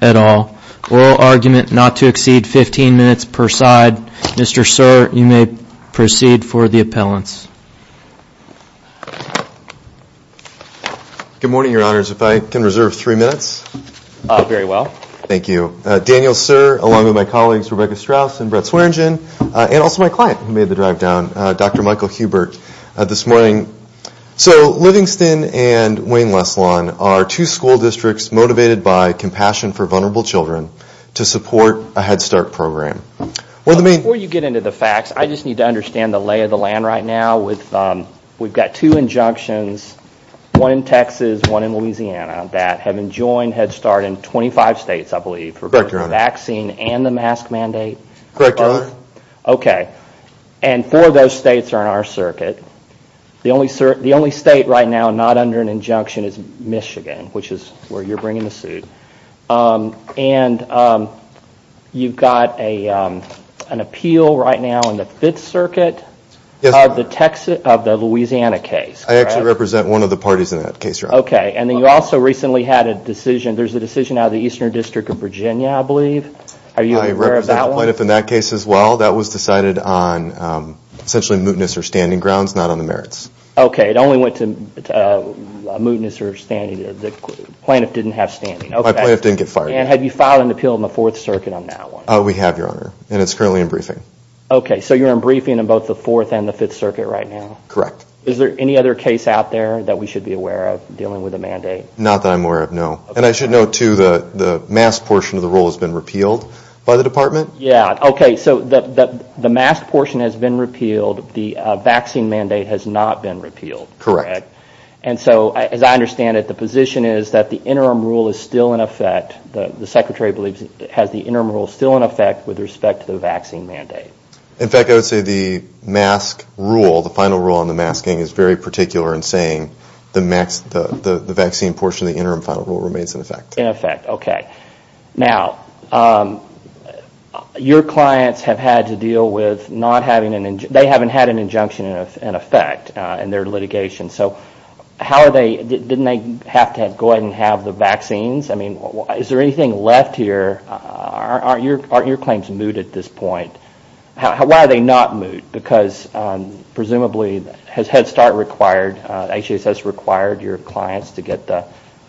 at all. Oral argument not to exceed 15 minutes per side. Mr. Sir, you may proceed for the appellants. Good morning, your honors. If I can reserve three minutes. Very well. Thank you. Daniel Sir, along with my colleagues, Rebecca Strauss and Brett Swearengin, are also my client who made the drive down, Dr. Michael Hubert, this morning. So Livingston and Wayne-Leslon are two school districts motivated by compassion for vulnerable children to support a Head Start program. Before you get into the facts, I just need to understand the lay of the land right now. We've got two injunctions, one in Texas, one in Louisiana, that have enjoined Head Start in 25 states, I believe, for both the vaccine and the mask mandate. Correct, your honor. Okay. And four of those states are in our circuit. The only state right now not under an injunction is Michigan, which is where you're bringing the suit. And you've got an appeal right now in the 5th circuit of the Louisiana case. I actually represent one of the parties in that case, your honor. Okay. And then you also recently had a decision, there's a decision out of the Eastern District of Virginia, I represent the plaintiff in that case as well, that was decided on essentially mootness or standing grounds, not on the merits. Okay, it only went to mootness or standing, the plaintiff didn't have standing. My plaintiff didn't get fired. And have you filed an appeal in the 4th circuit on that one? We have, your honor, and it's currently in briefing. Okay, so you're in briefing in both the 4th and the 5th circuit right now? Correct. Is there any other case out there that we should be aware of dealing with a mandate? Not that I'm aware of, no. And I should note, too, the mask portion of the rule has been repealed by the department? Yeah, okay, so the mask portion has been repealed, the vaccine mandate has not been repealed. Correct. And so, as I understand it, the position is that the interim rule is still in effect, the secretary believes it has the interim rule still in effect with respect to the vaccine mandate. In fact, I would say the mask rule, the final rule on the masking is very particular in saying the vaccine portion of the interim final rule remains in effect. In effect, okay. Now, your clients have had to deal with not having, they haven't had an injunction in effect in their litigation, so how are they, didn't they have to go ahead and have the vaccines? I mean, is there anything left here, aren't your claims moot at this point? Why are they not moot? Because presumably, has Head Start required, HHSS required your clients to get the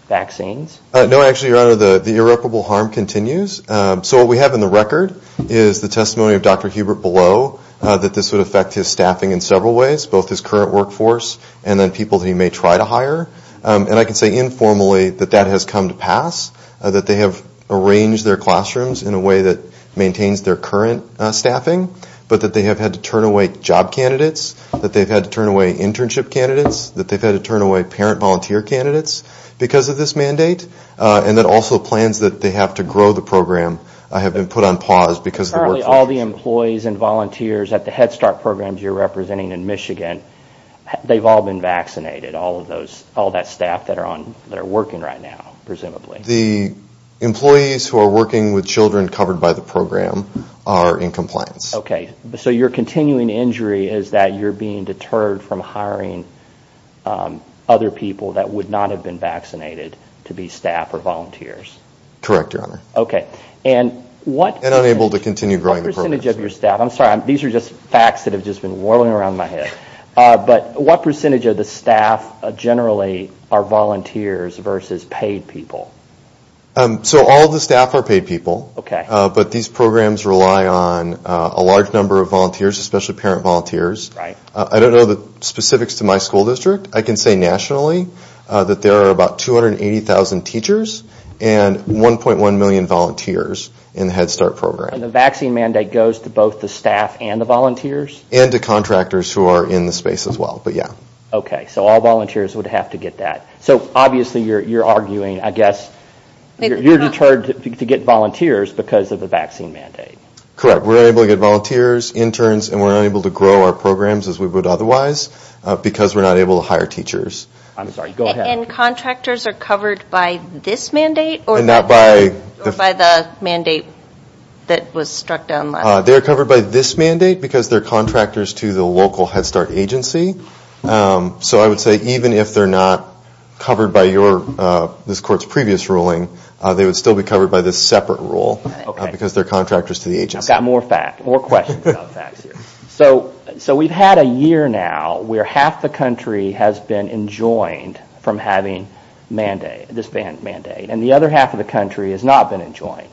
vaccines? No, actually, Your Honor, the irreparable harm continues. So what we have in the record is the testimony of Dr. Hubert Below that this would affect his staffing in several ways, both his current workforce and then people he may try to hire. And I can say informally that that has come to pass, that they have arranged their classrooms in a way that maintains their current staffing, but that they have had to turn away job candidates, that they've had to turn away internship candidates, that they've had to turn away parent volunteer candidates because of this mandate, and that also plans that they have to grow the program have been put on pause because of the workforce. Currently, all the employees and volunteers at the Head Start programs you're representing in Michigan, they've all been vaccinated, all of those, all that staff that are on, that are working right now, presumably. The employees who are working with children covered by the program are in compliance. Okay, so your continuing injury is that you're being deterred from hiring other people that would not have been vaccinated to be staff or volunteers? Correct, Your Honor. Okay, and what... And unable to continue growing the program. What percentage of your staff, I'm sorry, these are just facts that have just been whirling around my head, but what percentage of the staff generally are volunteers versus paid people? So all the staff are paid people. Okay. But these programs rely on a large number of volunteers, especially parent volunteers. Right. I don't know the specifics to my school district. I can say nationally that there are about 280,000 teachers and 1.1 million volunteers in the Head Start program. And the vaccine mandate goes to both the staff and the volunteers? And to contractors who are in the space as well, but yeah. Okay, so all volunteers would have to get that. So obviously you're arguing, I guess, you're deterred to get volunteers because of the vaccine mandate. Correct. We're unable to get volunteers, interns, and we're unable to grow our programs as we would otherwise because we're not able to hire teachers. I'm sorry, go ahead. And contractors are covered by this mandate or by the mandate that was struck down last year? They're covered by this mandate because they're contractors to the local Head Start agency. So I would say even if they're not covered by this court's previous ruling, they would still be covered by this separate rule because they're contractors to the agency. I've got more questions about facts here. So we've had a year now where half the country has been enjoined from having this mandate and the other half of the country has not been enjoined,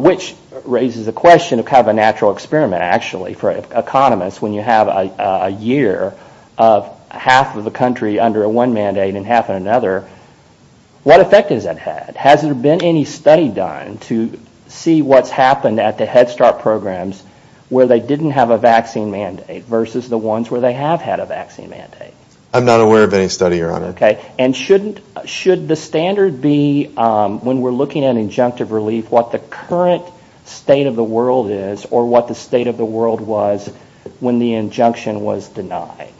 which raises the question of kind of a natural experiment actually for economists when you have a year of half of the country under one mandate and half of another. What effect has that had? Has there been any study done to see what's happened at the Head Start programs where they didn't have a vaccine mandate versus the ones where they have had a vaccine mandate? I'm not aware of any study, Your Honor. Okay. And should the standard be when we're looking at injunctive relief, what the current state of the world is or what the state of the world was when the injunction was denied?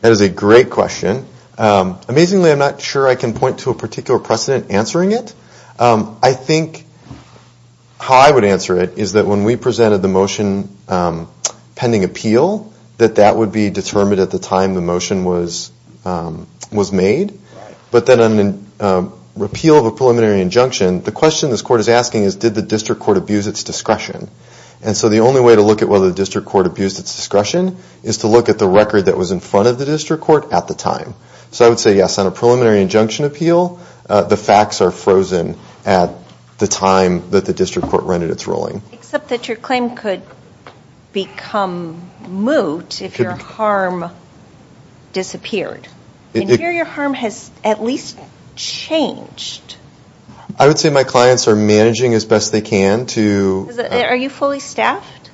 That is a great question. Amazingly, I'm not sure I can point to a particular precedent answering it. I think how I would answer it is that when we presented the motion pending appeal, that that would be determined at the time the motion was made. But then on an appeal of a preliminary injunction, the question this court is asking is did the district court abuse its discretion? And so the only way to look at whether the district court abused its discretion is to look at the record that was in front of the district court at the time. So I would say yes, on a preliminary injunction appeal, the facts are frozen at the time that the district court rendered its ruling. Except that your claim could become moot if your harm disappeared. And here your harm has at least changed. I would say my clients are managing as best they can to... Are you fully staffed?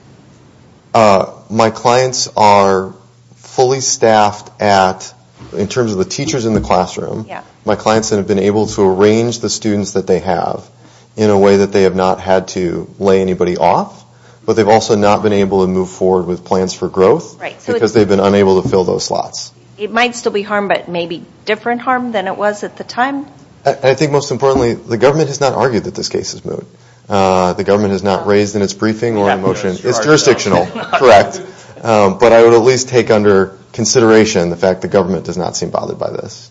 My clients are fully staffed at, in terms of the teachers in the classroom, my clients have been able to arrange the students that they have in a way that they have not had to lay anybody off, but they have also not been able to move forward with plans for growth because they have been unable to fill those slots. It might still be harm, but maybe different harm than it was at the time? I think most importantly, the government has not argued that this case is moot. The government has not raised in its briefing or in the motion. It is jurisdictional, correct. But I would at least take under consideration the fact that the government has not raised in its briefing that this case is moot.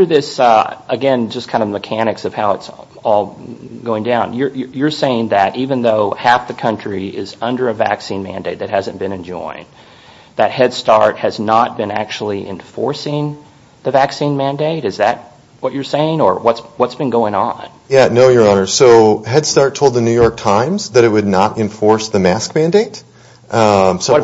It is, again, just kind of mechanics of how it is all going down. You are saying that even though half the country is under a vaccine mandate that has not been enjoined, that Head Start has not been actually enforcing the vaccine mandate? Is that what you are saying or what has been going on? No, Your Honor. So Head Start told the New York Times that it would not enforce the vaccine mandate? Honestly,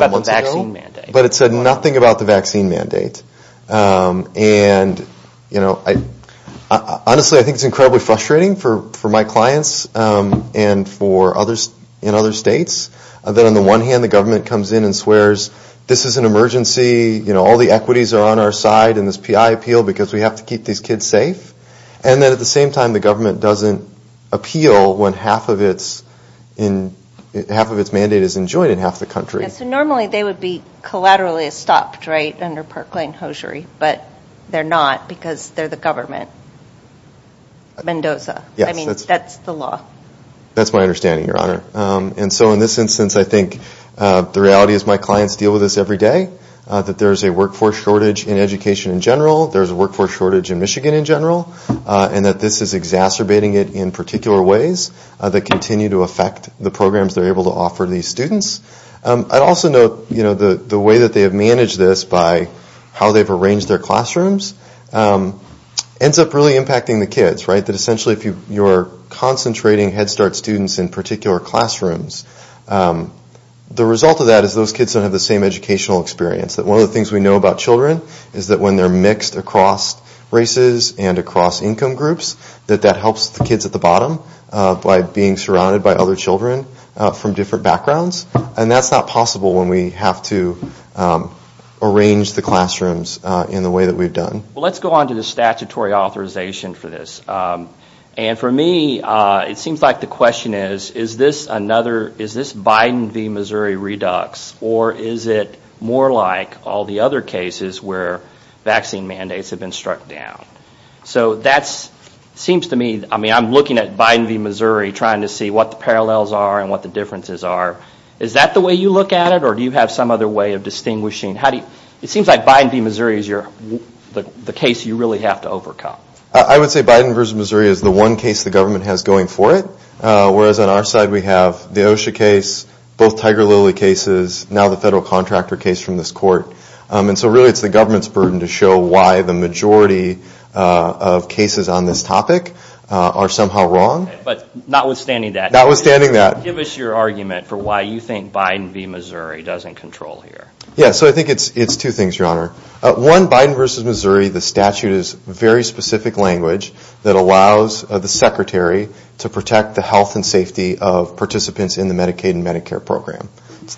I think it is incredibly frustrating for my clients and for others in other states that on the one hand the government comes in and swears this is an emergency, all the equities are on our side and this PI appeal because we have to keep these kids safe. And then at the same time the government doesn't appeal when half of its mandate is enjoined in half the country. So normally they would be collaterally stopped, right, under government. Mendoza. I mean, that is the law. That is my understanding, Your Honor. And so in this instance I think the reality is my clients deal with this every day, that there is a workforce shortage in education in general, there is a workforce shortage in Michigan in general, and that this is exacerbating it in particular ways that continue to affect the programs they are able to offer these students. I would also note the way that they have managed this by how they have organized their classrooms ends up really impacting the kids, right, that essentially if you are concentrating Head Start students in particular classrooms, the result of that is those kids don't have the same educational experience. That one of the things we know about children is that when they are mixed across races and across income groups, that that helps the kids at the bottom by being surrounded by other children from different backgrounds. And that is not possible when we have to organize our classrooms in the way that we have done. Let's go on to the statutory authorization for this. And for me, it seems like the question is, is this another, is this Biden v. Missouri redux, or is it more like all the other cases where vaccine mandates have been struck down? So that seems to me, I mean, I am looking at Biden v. Missouri trying to see what the parallels are and what the differences are. Is that the way you look at it, or do you have some other way of distinguishing? It seems like Biden v. Missouri is the case you really have to overcome. I would say Biden v. Missouri is the one case the government has going for it, whereas on our side we have the OSHA case, both Tiger Lilly cases, now the federal contractor case from this court. And so really it is the government's burden to show why the majority of cases on this topic are somehow wrong. But notwithstanding that, give us your argument for why you think Biden v. Missouri doesn't control here. Yes, so I think it is two things, Your Honor. One, Biden v. Missouri, the statute is very specific language that allows the Secretary to protect the health and safety of participants in the Medicaid and Medicare program.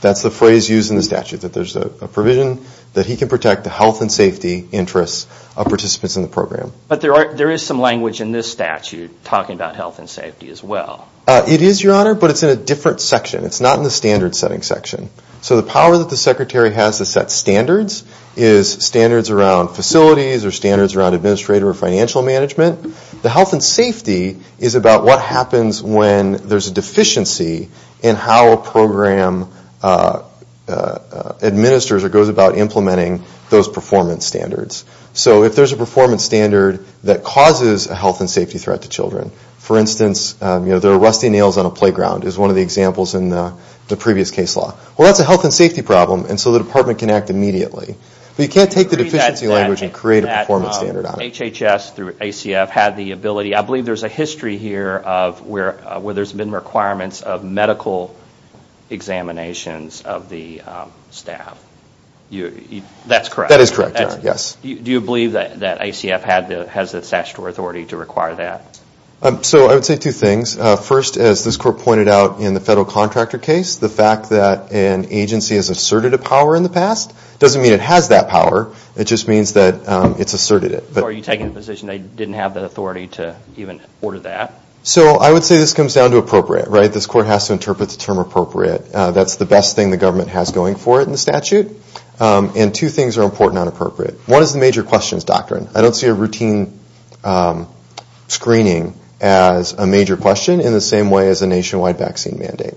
That is the phrase used in the statute, that there is a provision that he can protect the health and safety interests of participants in the program. But there is some language in this statute talking about health and safety as well. It is, Your Honor, but it is in a different section. It is not in the standard setting section. So the power that the Secretary has to set standards is standards around facilities or standards around administrator or financial management. The health and safety is about what happens when there is a deficiency in how a program administers or goes about implementing those performance standards. So if there is a performance standard that causes a health and safety threat to children, for instance, there are rusty nails on a playground is one of the examples in the previous case law. Well, that is a health and safety problem and so the department can act immediately. But you can't take the deficiency language and create a performance standard on it. I believe there is a history here where there has been requirements of medical examinations of the staff. That is correct. Do you believe that ICF has the statutory authority to require that? So I would say two things. First, as this Court pointed out in the federal contractor case, the fact that an agency has asserted a power in the past doesn't mean it has that power. It just means that it has asserted it. Are you taking the position they didn't have the authority to even order that? So I would say this comes down to appropriate. This Court has to interpret the term appropriate. That is the best thing the government has going for it in the statute. And two things are important on appropriate. One is the major questions doctrine. I don't see a routine screening as a major question in the same way as a nationwide vaccine mandate.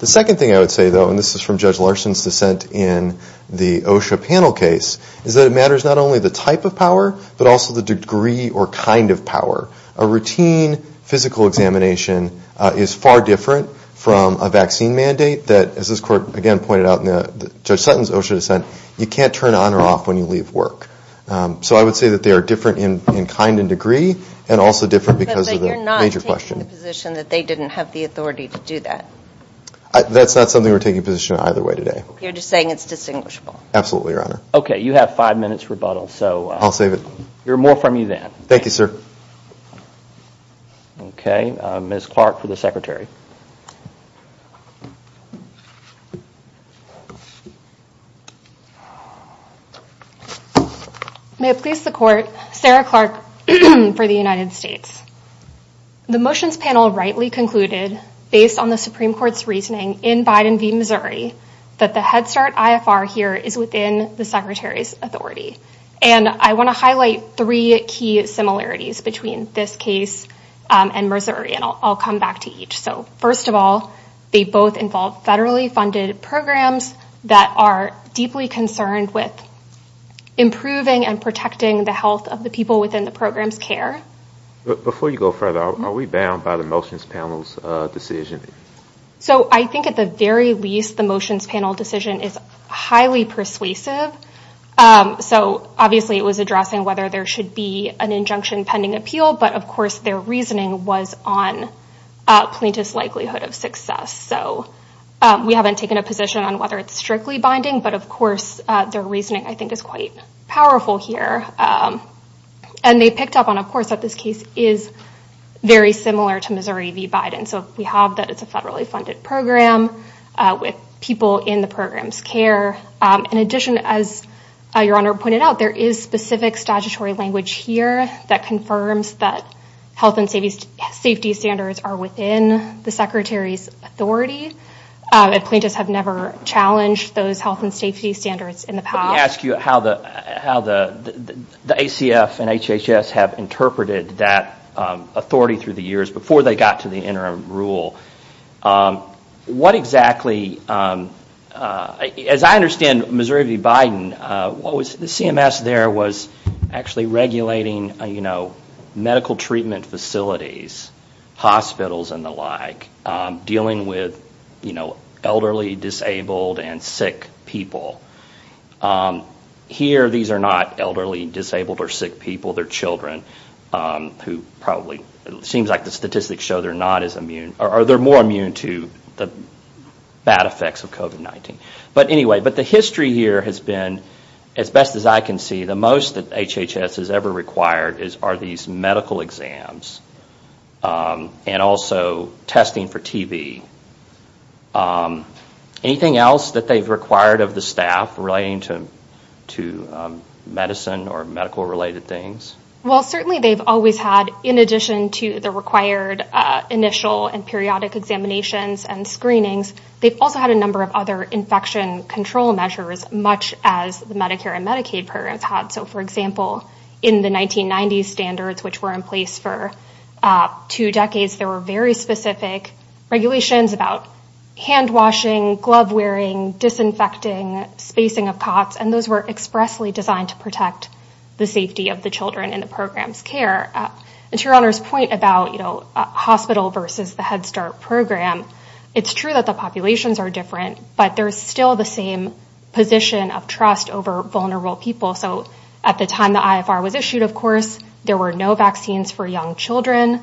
The second thing I would say, though, and this is from Judge Larson's dissent in the OSHA panel case, is that it matters not only the type of power, but also the degree or kind of power. A routine physical examination is far different from a vaccine mandate that, as this Court again pointed out in Judge Sutton's OSHA dissent, you can't turn on or off when you leave work. So I would say that they are different in kind and degree and also different because of the major question. But you're not taking the position that they didn't have the authority to do that? That's not something we're taking position on either way today. You're just saying it's distinguishable? Absolutely, Your Honor. Ms. Clark for the Secretary. May it please the Court, Sarah Clark for the United States. The motions panel rightly concluded, based on the Supreme Court's reasoning in Biden v. Missouri, that the Head Start IFR here is within the Secretary's authority. And I want to highlight three key similarities between this case and Missouri. And I'll come back to each. So first of all, they both involve federally funded programs that are deeply concerned with improving and protecting the health of the people within the program's care. Before you go further, are we bound by the motions panel's decision? So I think at the very least, the motions panel decision is highly persuasive. So obviously it was addressing whether there should be an injunction pending appeal. But of course, their reasoning was on plaintiff's likelihood of success. So we haven't taken a position on whether it's strictly binding. But of course, their reasoning, I think, is quite powerful here. And they picked up on, of course, that this case is very similar to Missouri v. Biden. So we have that it's a federally funded program with people in the program's care. In addition, as Your Honor pointed out, there is specific statutory language here that confirms that health and safety standards are within the Secretary's authority. Plaintiffs have never challenged those health and safety standards in the past. Let me ask you how the ACF and HHS have interpreted that authority through the years before they got to the interim rule. As I understand Missouri v. Biden, the CMS there was actually regulating medical treatment facilities, hospitals, and the like, dealing with elderly, disabled, and sick people. Here, these are not elderly, disabled, or sick people. They're children who probably, it seems like the statistics show they're not as immune, or they're more immune to the bad effects of COVID-19. But anyway, the history here has been, as best as I can see, the most that HHS has ever required are these medical exams and also testing for TB. Anything else that they've required of the staff relating to medicine or medical related things? Well, certainly they've always had, in addition to the required initial and periodic examinations and screenings, they've also had a number of other infection control measures, much as the Medicare and Medicaid programs had. So for example, in the 1990s standards, which were in place for two decades, there were very specific regulations about hand washing, glove wearing, disinfecting, spacing of cots, and those were expressly designed to protect the safety of the children in the program's care. And to your Honor's point about hospital versus the Head Start program, it's true that the populations are different, but there's still the same position of trust over vulnerable people. So at the time the IFR was issued, of course, there were no vaccines for young children.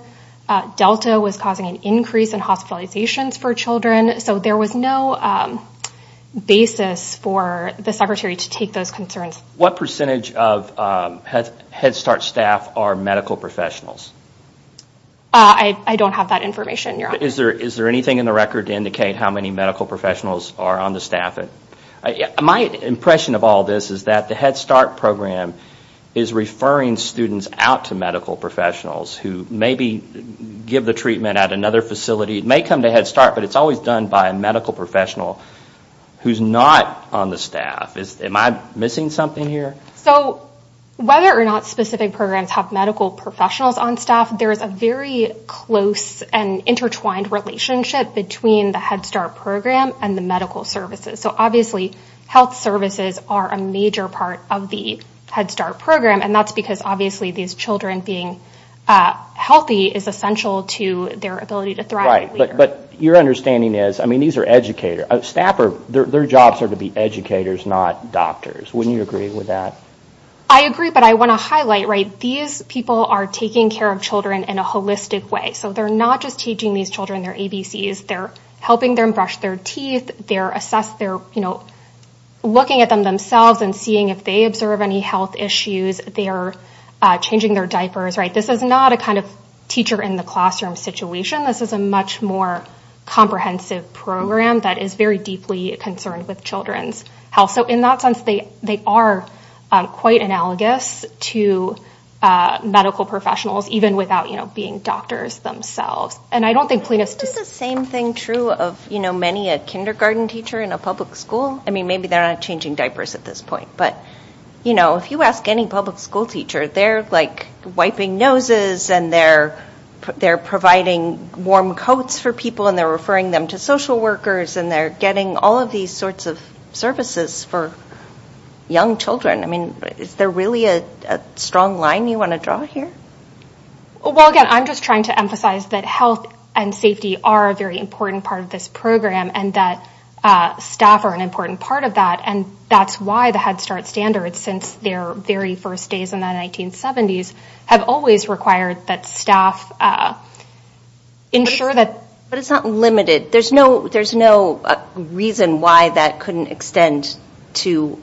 Delta was causing an increase in hospitalizations for children. So there was no basis for the secretary to take those concerns. What percentage of Head Start staff are medical professionals? I don't have that information, Your Honor. Is there anything in the record to indicate how many medical professionals are on the staff? My impression of all this is that the Head Start program is referring students out to medical professionals who maybe give the treatment at another facility. It may come to Head Start, but it's always done by a medical professional who's not on the staff. Am I missing something here? So whether or not specific programs have medical professionals on staff, there is a very close and intertwined relationship between the Head Start program and the medical services. So obviously health services are a major part of the Head Start program, and that's because obviously these children being healthy is essential to their ability to thrive. Right. But your understanding is, I mean, these are educators. Their jobs are to be educators, not doctors. Wouldn't you agree with that? I agree, but I want to highlight, right, these people are taking care of children in a holistic way. So they're not just teaching these children their ABCs. They're helping them brush their teeth. They're looking at them themselves and seeing if they observe any health issues. They're changing their diapers. Right. This is not a kind of teacher in the classroom situation. This is a much more comprehensive program that is very deeply concerned with children's health. So in that sense, they are quite analogous to medical professionals, even without being doctors themselves. Is the same thing true of many a kindergarten teacher in a public school? I mean, maybe they're not changing diapers at this point, but if you ask any public school teacher, they're like wiping noses and they're providing warm coats for people and they're referring them to social workers, and they're getting all of these sorts of services for young children. I mean, is there really a strong line you want to draw here? Well, again, I'm just trying to emphasize that health and safety are a very important part of this program and that staff are an important part of that. And that's why the Head Start standards, since their very first days in the 1970s, have always required that staff ensure that. But it's not limited. There's no reason why that couldn't extend to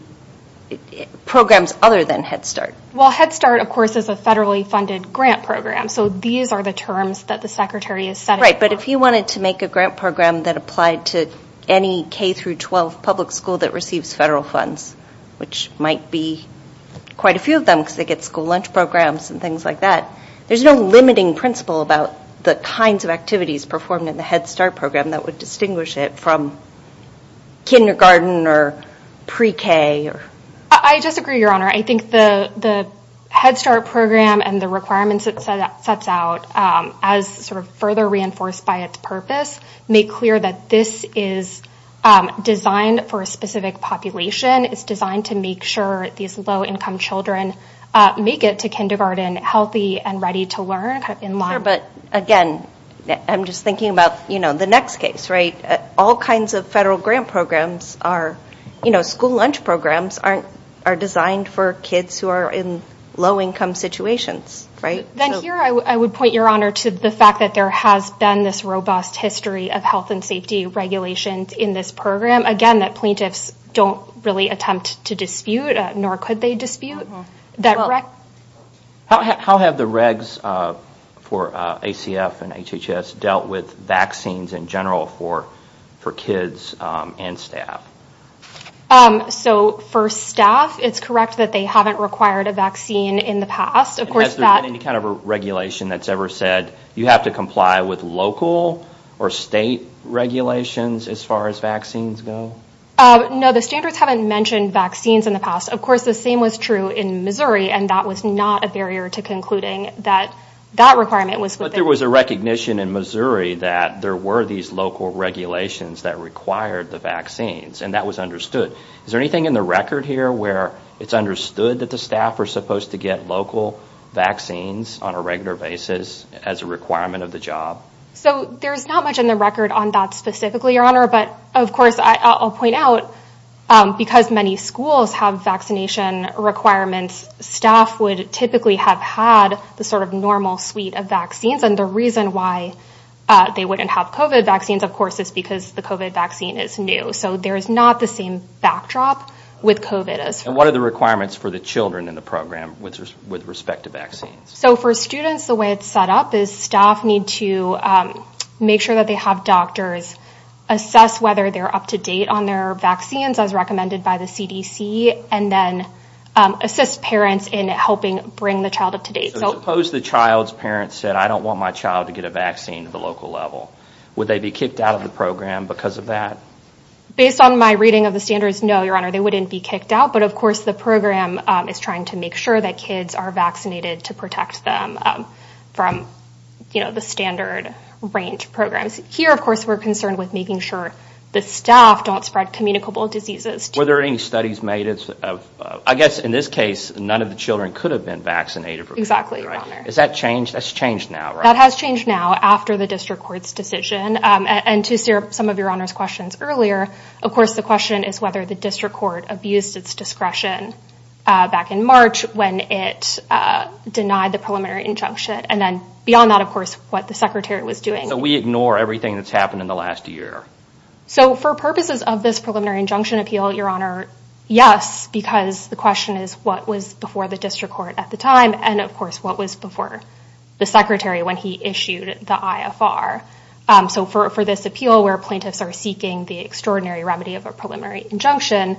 programs other than Head Start. Well, Head Start, of course, is a federally funded grant program. So these are the terms that the Secretary has set it for. Right, but if you wanted to make a grant program that applied to any K-12 public school that receives federal funds, which might be quite a few of them because they get school lunch programs and things like that, there's no limiting principle about the kinds of activities performed in the Head Start program that would distinguish it from kindergarten or pre-K. I just agree, Your Honor. I think the Head Start program and the requirements it sets out as sort of further reinforced by its purpose make clear that this is designed for a specific population. It's designed to make sure these low-income children make it to kindergarten healthy and ready to learn. Sure, but again, I'm just thinking about the next case, right? All kinds of federal grant programs, school lunch programs, are designed for kids who are in low-income situations, right? Then here, I would point, Your Honor, to the fact that there has been this robust history of health and safety regulations in this program. Again, that plaintiffs don't really attempt to dispute, nor could they dispute. How have the regs for ACF and HHS dealt with vaccines in general for kids and staff? So for staff, it's correct that they haven't required a vaccine in the past. Has there been any kind of regulation that's ever said, you have to comply with local or state regulations as far as vaccines go? No, the standards haven't mentioned vaccines in the past. Of course, the same was true in Missouri, and that was not a barrier to concluding that that requirement was within... But there was a recognition in Missouri that there were these local regulations that required the vaccines, and that was understood. Is there anything in the record here where it's understood that the staff are supposed to get local vaccines on a regular basis as a requirement of the job? So there's not much in the record on that specifically, Your Honor. But of course, I'll point out, because many schools have vaccination requirements, staff would typically have had the sort of normal suite of vaccines. And the reason why they wouldn't have COVID vaccines, of course, is because the COVID vaccine is new. So there is not the same backdrop with COVID as... And what are the requirements for the children in the program with respect to vaccines? So for students, the way it's set up is staff need to make sure that they have doctors assess whether they're up to date on their vaccines, as recommended by the CDC, and then assist parents in helping bring the child up to date. So suppose the child's parents said, I don't want my child to get a vaccine at the local level. Would they be kicked out of the program because of that? Based on my reading of the standards, no, Your Honor, they wouldn't be kicked out. But of course, the program is trying to make sure that kids are vaccinated to protect them from the standard range programs. Here, of course, we're concerned with making sure the staff don't spread communicable diseases. Were there any studies made? I guess in this case, none of the children could have been vaccinated. Exactly. Is that changed? That's changed now. That has changed now after the district court's decision. And to some of Your Honor's questions earlier, of course, the question is whether the district court abused its discretion back in March when it denied the preliminary injunction. And then beyond that, of course, what the secretary was doing. So we ignore everything that's happened in the last year. So for purposes of this preliminary injunction appeal, Your Honor, yes, because the question is what was before the district court at the time? And of course, what was before the secretary when he issued the IFR? So for this appeal where plaintiffs are seeking the extraordinary remedy of a preliminary injunction,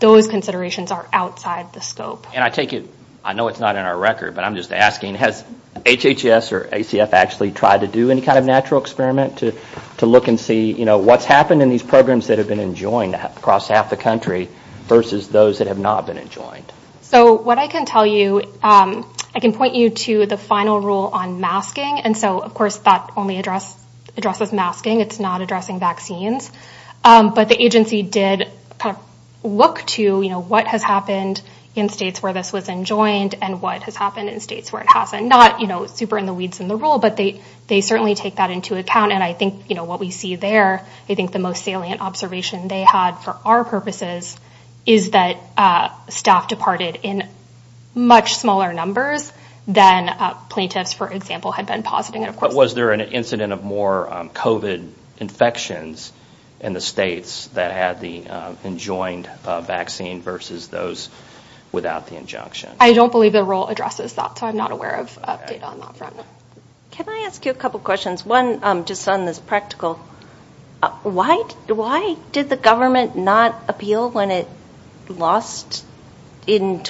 those considerations are outside the scope. And I take it. I know it's not in our record, but I'm just asking, has HHS or ACF actually tried to do any kind of natural experiment to look and see what's happened in these programs that have been enjoined across half the country versus those that have not been enjoined? So what I can tell you, I can point you to the final rule on masking. And so, of course, that only address addresses masking. It's not addressing vaccines. But the agency did look to what has happened in states where this was enjoined and what has happened in states where it hasn't. Not super in the weeds in the rule, but they certainly take that into account. And I think what we see there, I think the most salient observation they had for our purposes is that staff departed in much smaller numbers than plaintiffs, for example, had been positing. Was there an incident of more COVID infections in the states that had the enjoined vaccine versus those without the injunction? I don't believe the rule addresses that, so I'm not aware of data on that front. Can I ask you a couple of questions? One, just on this practical, why did the government not appeal when it did? And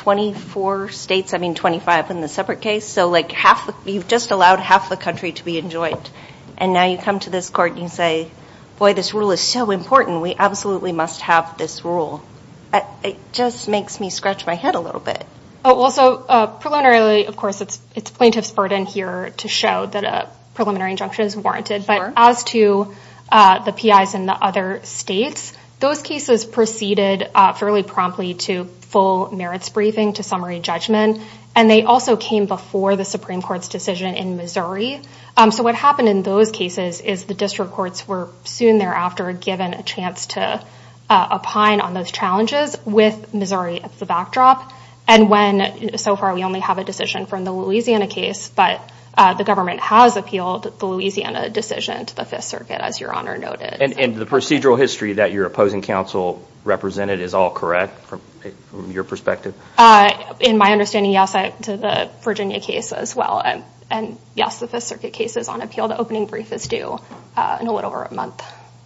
now you come to this court and you say, boy, this rule is so important. We absolutely must have this rule. It just makes me scratch my head a little bit. Well, so preliminarily, of course, it's plaintiff's burden here to show that a preliminary injunction is warranted. But as to the PIs in the other states, those cases proceeded fairly promptly to full merits briefing, to summary judgment. And they also came before the Supreme Court's decision in Missouri. So what happened in those cases is the district courts were soon thereafter given a chance to opine on those challenges with Missouri as the backdrop. And so far, we only have a decision from the Louisiana case, but the government has appealed the Louisiana decision to the Virginia case as well. And yes, the Fifth Circuit case is on appeal. The opening brief is due in a little over a month.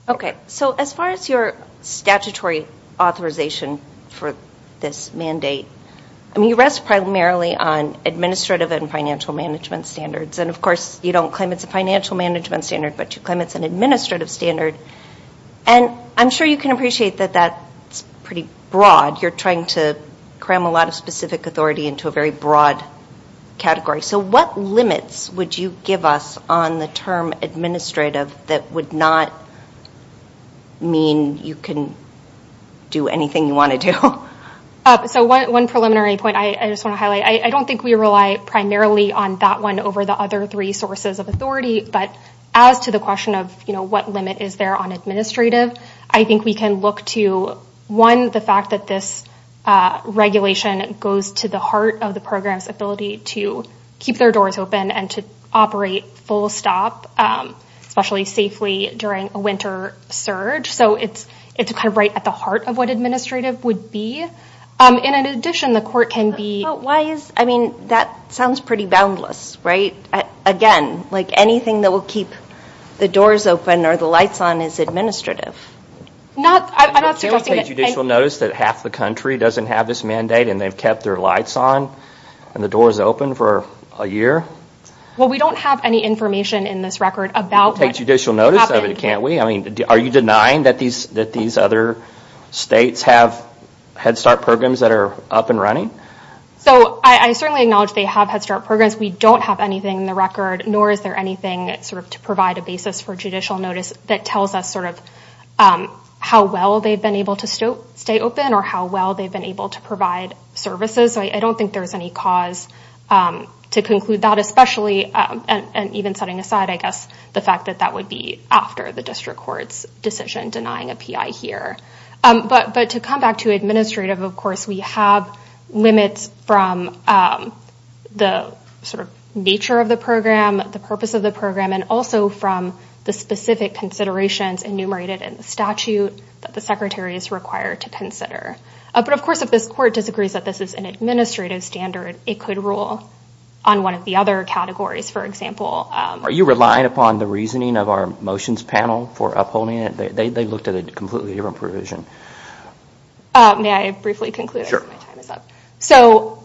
Okay. So as far as your statutory authorization for this mandate, I mean, you rest primarily on administrative and financial management standards. And of course, you don't claim it's a financial management standard, but you claim it's an administrative standard. And I'm sure you can appreciate that that's pretty broad. You're trying to cram a lot of specific authority into a very broad category. So what limits would you give us on the term administrative that would not mean you can do anything you want to do? So one preliminary point I just want to highlight. I don't think we rely primarily on that one over the other three sources of authority. But as to the question of what limit is there on administrative, I think we can look to, one, the fact that this regulation goes to the heart of the program's ability to keep their doors open and to operate full stop, especially safely during a winter surge. So it's kind of right at the heart of what administrative would be. And in addition, the court can be... I mean, that sounds pretty boundless, right? Again, like anything that will keep the doors open or the lights on is administrative. I'm not suggesting that... Well, we don't have any information in this record about what happened. I mean, are you denying that these other states have Head Start programs that are up and running? So I certainly acknowledge they have Head Start programs. We don't have anything in the record, nor is there anything to provide a basis for judicial notice that tells us how well they've been able to stay open or how well they've been able to provide services. So I don't think there's any cause to conclude that, especially... And even setting aside, I guess, the fact that that would be after the district court's decision denying a PI here. But to come back to administrative, of course, we have limits from the nature of the program, the purpose of the program, and also from the specific considerations enumerated in the statute that the secretary is required to consider. But of course, if this court disagrees that this is an administrative standard, it could rule on one of the other categories. For example... Are you relying upon the reasoning of our motions panel for upholding it? They looked at a completely different provision. May I briefly conclude? Sure. My time is up. So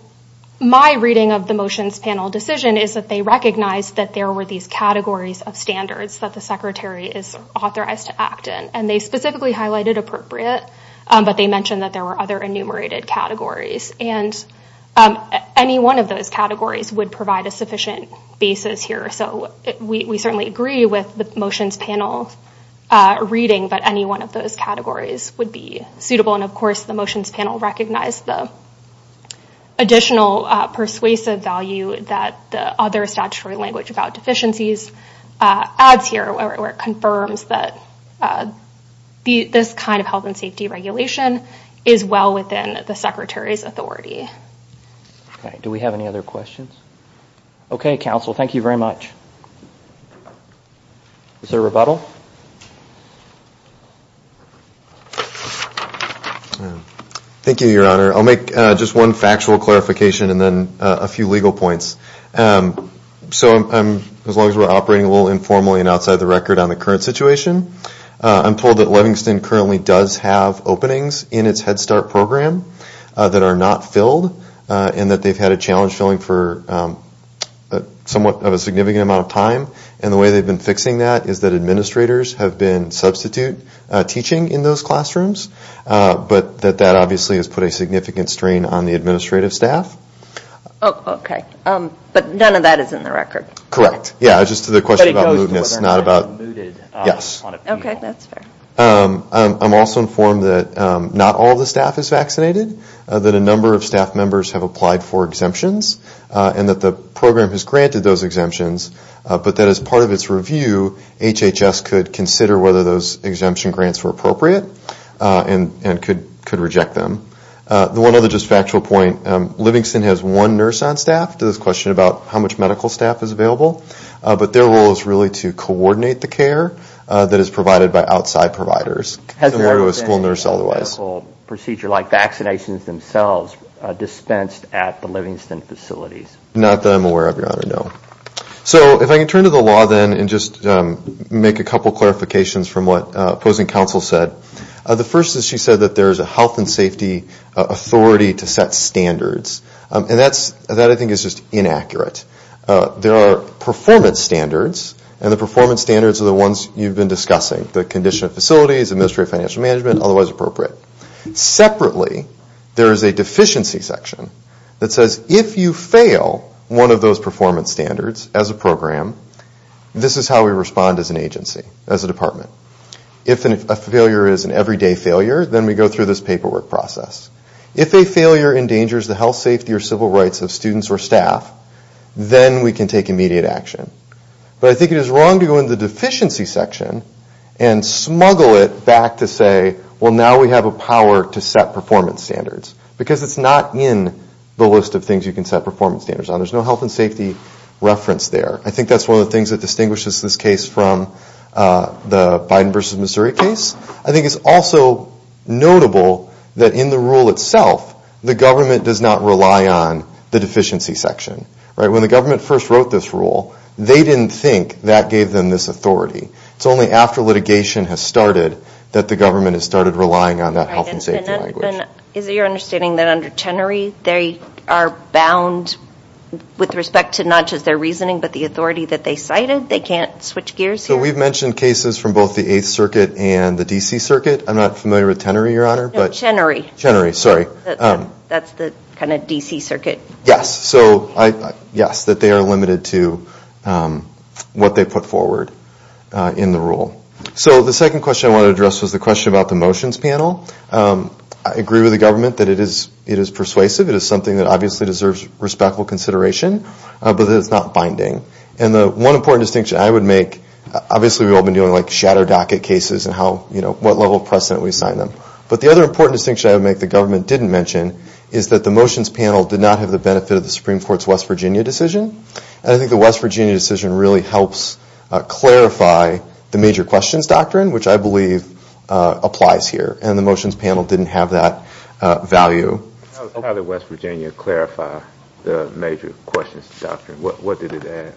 my reading of the motions panel decision is that they recognized that there were these categories of standards that the secretary is authorized to act in. And they specifically highlighted appropriate, but they mentioned that there were other enumerated categories. And any one of those categories would provide a sufficient basis here. So we certainly agree with the motions panel reading, but any one of those categories would be suitable. And of course, the motions panel recognized the additional persuasive value that the other statutory language about deficiencies adds here, where it confirms that this kind of health and safety regulation is well within the secretary's authority. Okay. Do we have any other questions? Okay, counsel. Thank you very much. Is there a rebuttal? Thank you, Your Honor. I'll make just one factual clarification and then a few legal points. So as long as we're operating a little informally and outside the record on the current situation, I'm told that Levingston currently does have openings in its Head Start program that are not filled, and that they've had a challenge filling for somewhat of a significant amount of time. And the way they've been fixing that is that administrators have been substitute teaching in those classrooms, but that that obviously has put a significant strain on the administrative staff. Okay. But none of that is in the record. Correct. Yeah, just to the question about mootness, not about, yes. Okay, that's fair. I'm also informed that not all the staff is vaccinated, that a number of staff members have applied for exemptions, and that the program has granted those exemptions, but that as part of its review, HHS could consider whether those exemption grants were appropriate and could reject them. The one other just factual point, Levingston has one nurse on staff to this question about how much medical staff is available, but their role is really to coordinate the care that is provided by outside providers. Has there ever been a medical procedure like vaccinations themselves dispensed at the Levingston facilities? Not that I'm aware of, Your Honor, no. So if I can turn to the law then and just make a couple clarifications from what opposing counsel said. The first is she said that there is a health and safety authority to set standards. And that I think is just inaccurate. There are performance standards, and the performance standards are the ones you've been discussing, the condition of facilities, administrative financial management, otherwise appropriate. Separately, there is a deficiency section that says if you fail one of those performance standards as a program, this is how we respond as an agency, as a department. If a failure is an everyday failure, then we go through this paperwork process. If a failure endangers the health, safety, or civil rights of students or staff, then we can take immediate action. But I think it is wrong to go into the deficiency section and smuggle it back to say, well, now we have a power to set performance standards. Because it's not in the list of things you can set performance standards on. There's no health and safety reference there. I think that's one of the things that distinguishes this case from the Biden versus Missouri case. I think it's also notable that in the rule itself, the government does not rely on the deficiency section. When the government first wrote this rule, they didn't think that gave them this authority. It's only after litigation has started that the government has started relying on that health and safety language. Is it your understanding that under Chenery, they are bound with respect to not just their reasoning, but the authority that they cited? They can't switch gears here? So we've mentioned cases from both the 8th Circuit and the D.C. Circuit. I'm not familiar with Tenery, Your Honor. No, Chenery. That's the kind of D.C. Circuit. Yes, that they are limited to what they put forward in the rule. So the second question I wanted to address was the question about the motions panel. I agree with the government that it is persuasive. It is something that obviously deserves respectful consideration, but that it's not binding. And the one important distinction I would make, obviously we've all been dealing with shadow docket cases and what level of precedent we assign them. But the other important distinction I would make that the government didn't mention is that the motions panel did not have the benefit of the Supreme Court's West Virginia decision. And I think the West Virginia decision really helps clarify the major questions doctrine, which I believe applies here. And the motions panel didn't have that value. How did West Virginia clarify the major questions doctrine? What did it add?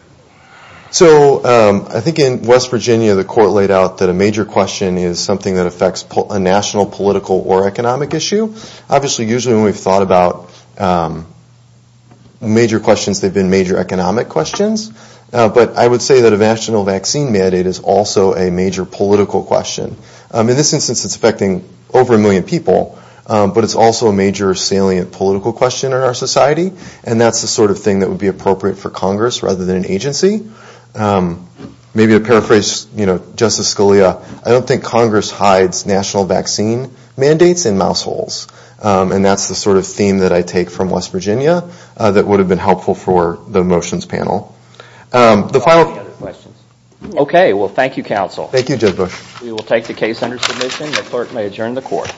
So I think in West Virginia, the court laid out that a major question is something that affects a national, political, or economic issue. Obviously, usually when we've thought about major questions, they've been major economic questions. But I would say that a national vaccine mandate is also a major political question. In this instance, it's affecting over a million people. But it's also a major salient political question in our society. And that's the sort of thing that would be appropriate for Congress rather than an agency. Maybe to paraphrase Justice Scalia, I don't think Congress hides national vaccine mandates in mouse holes. And that's the sort of theme that I take from West Virginia that would have been helpful for the motions panel. Okay. Well, thank you, counsel. We will take the case under submission. The clerk may adjourn the court.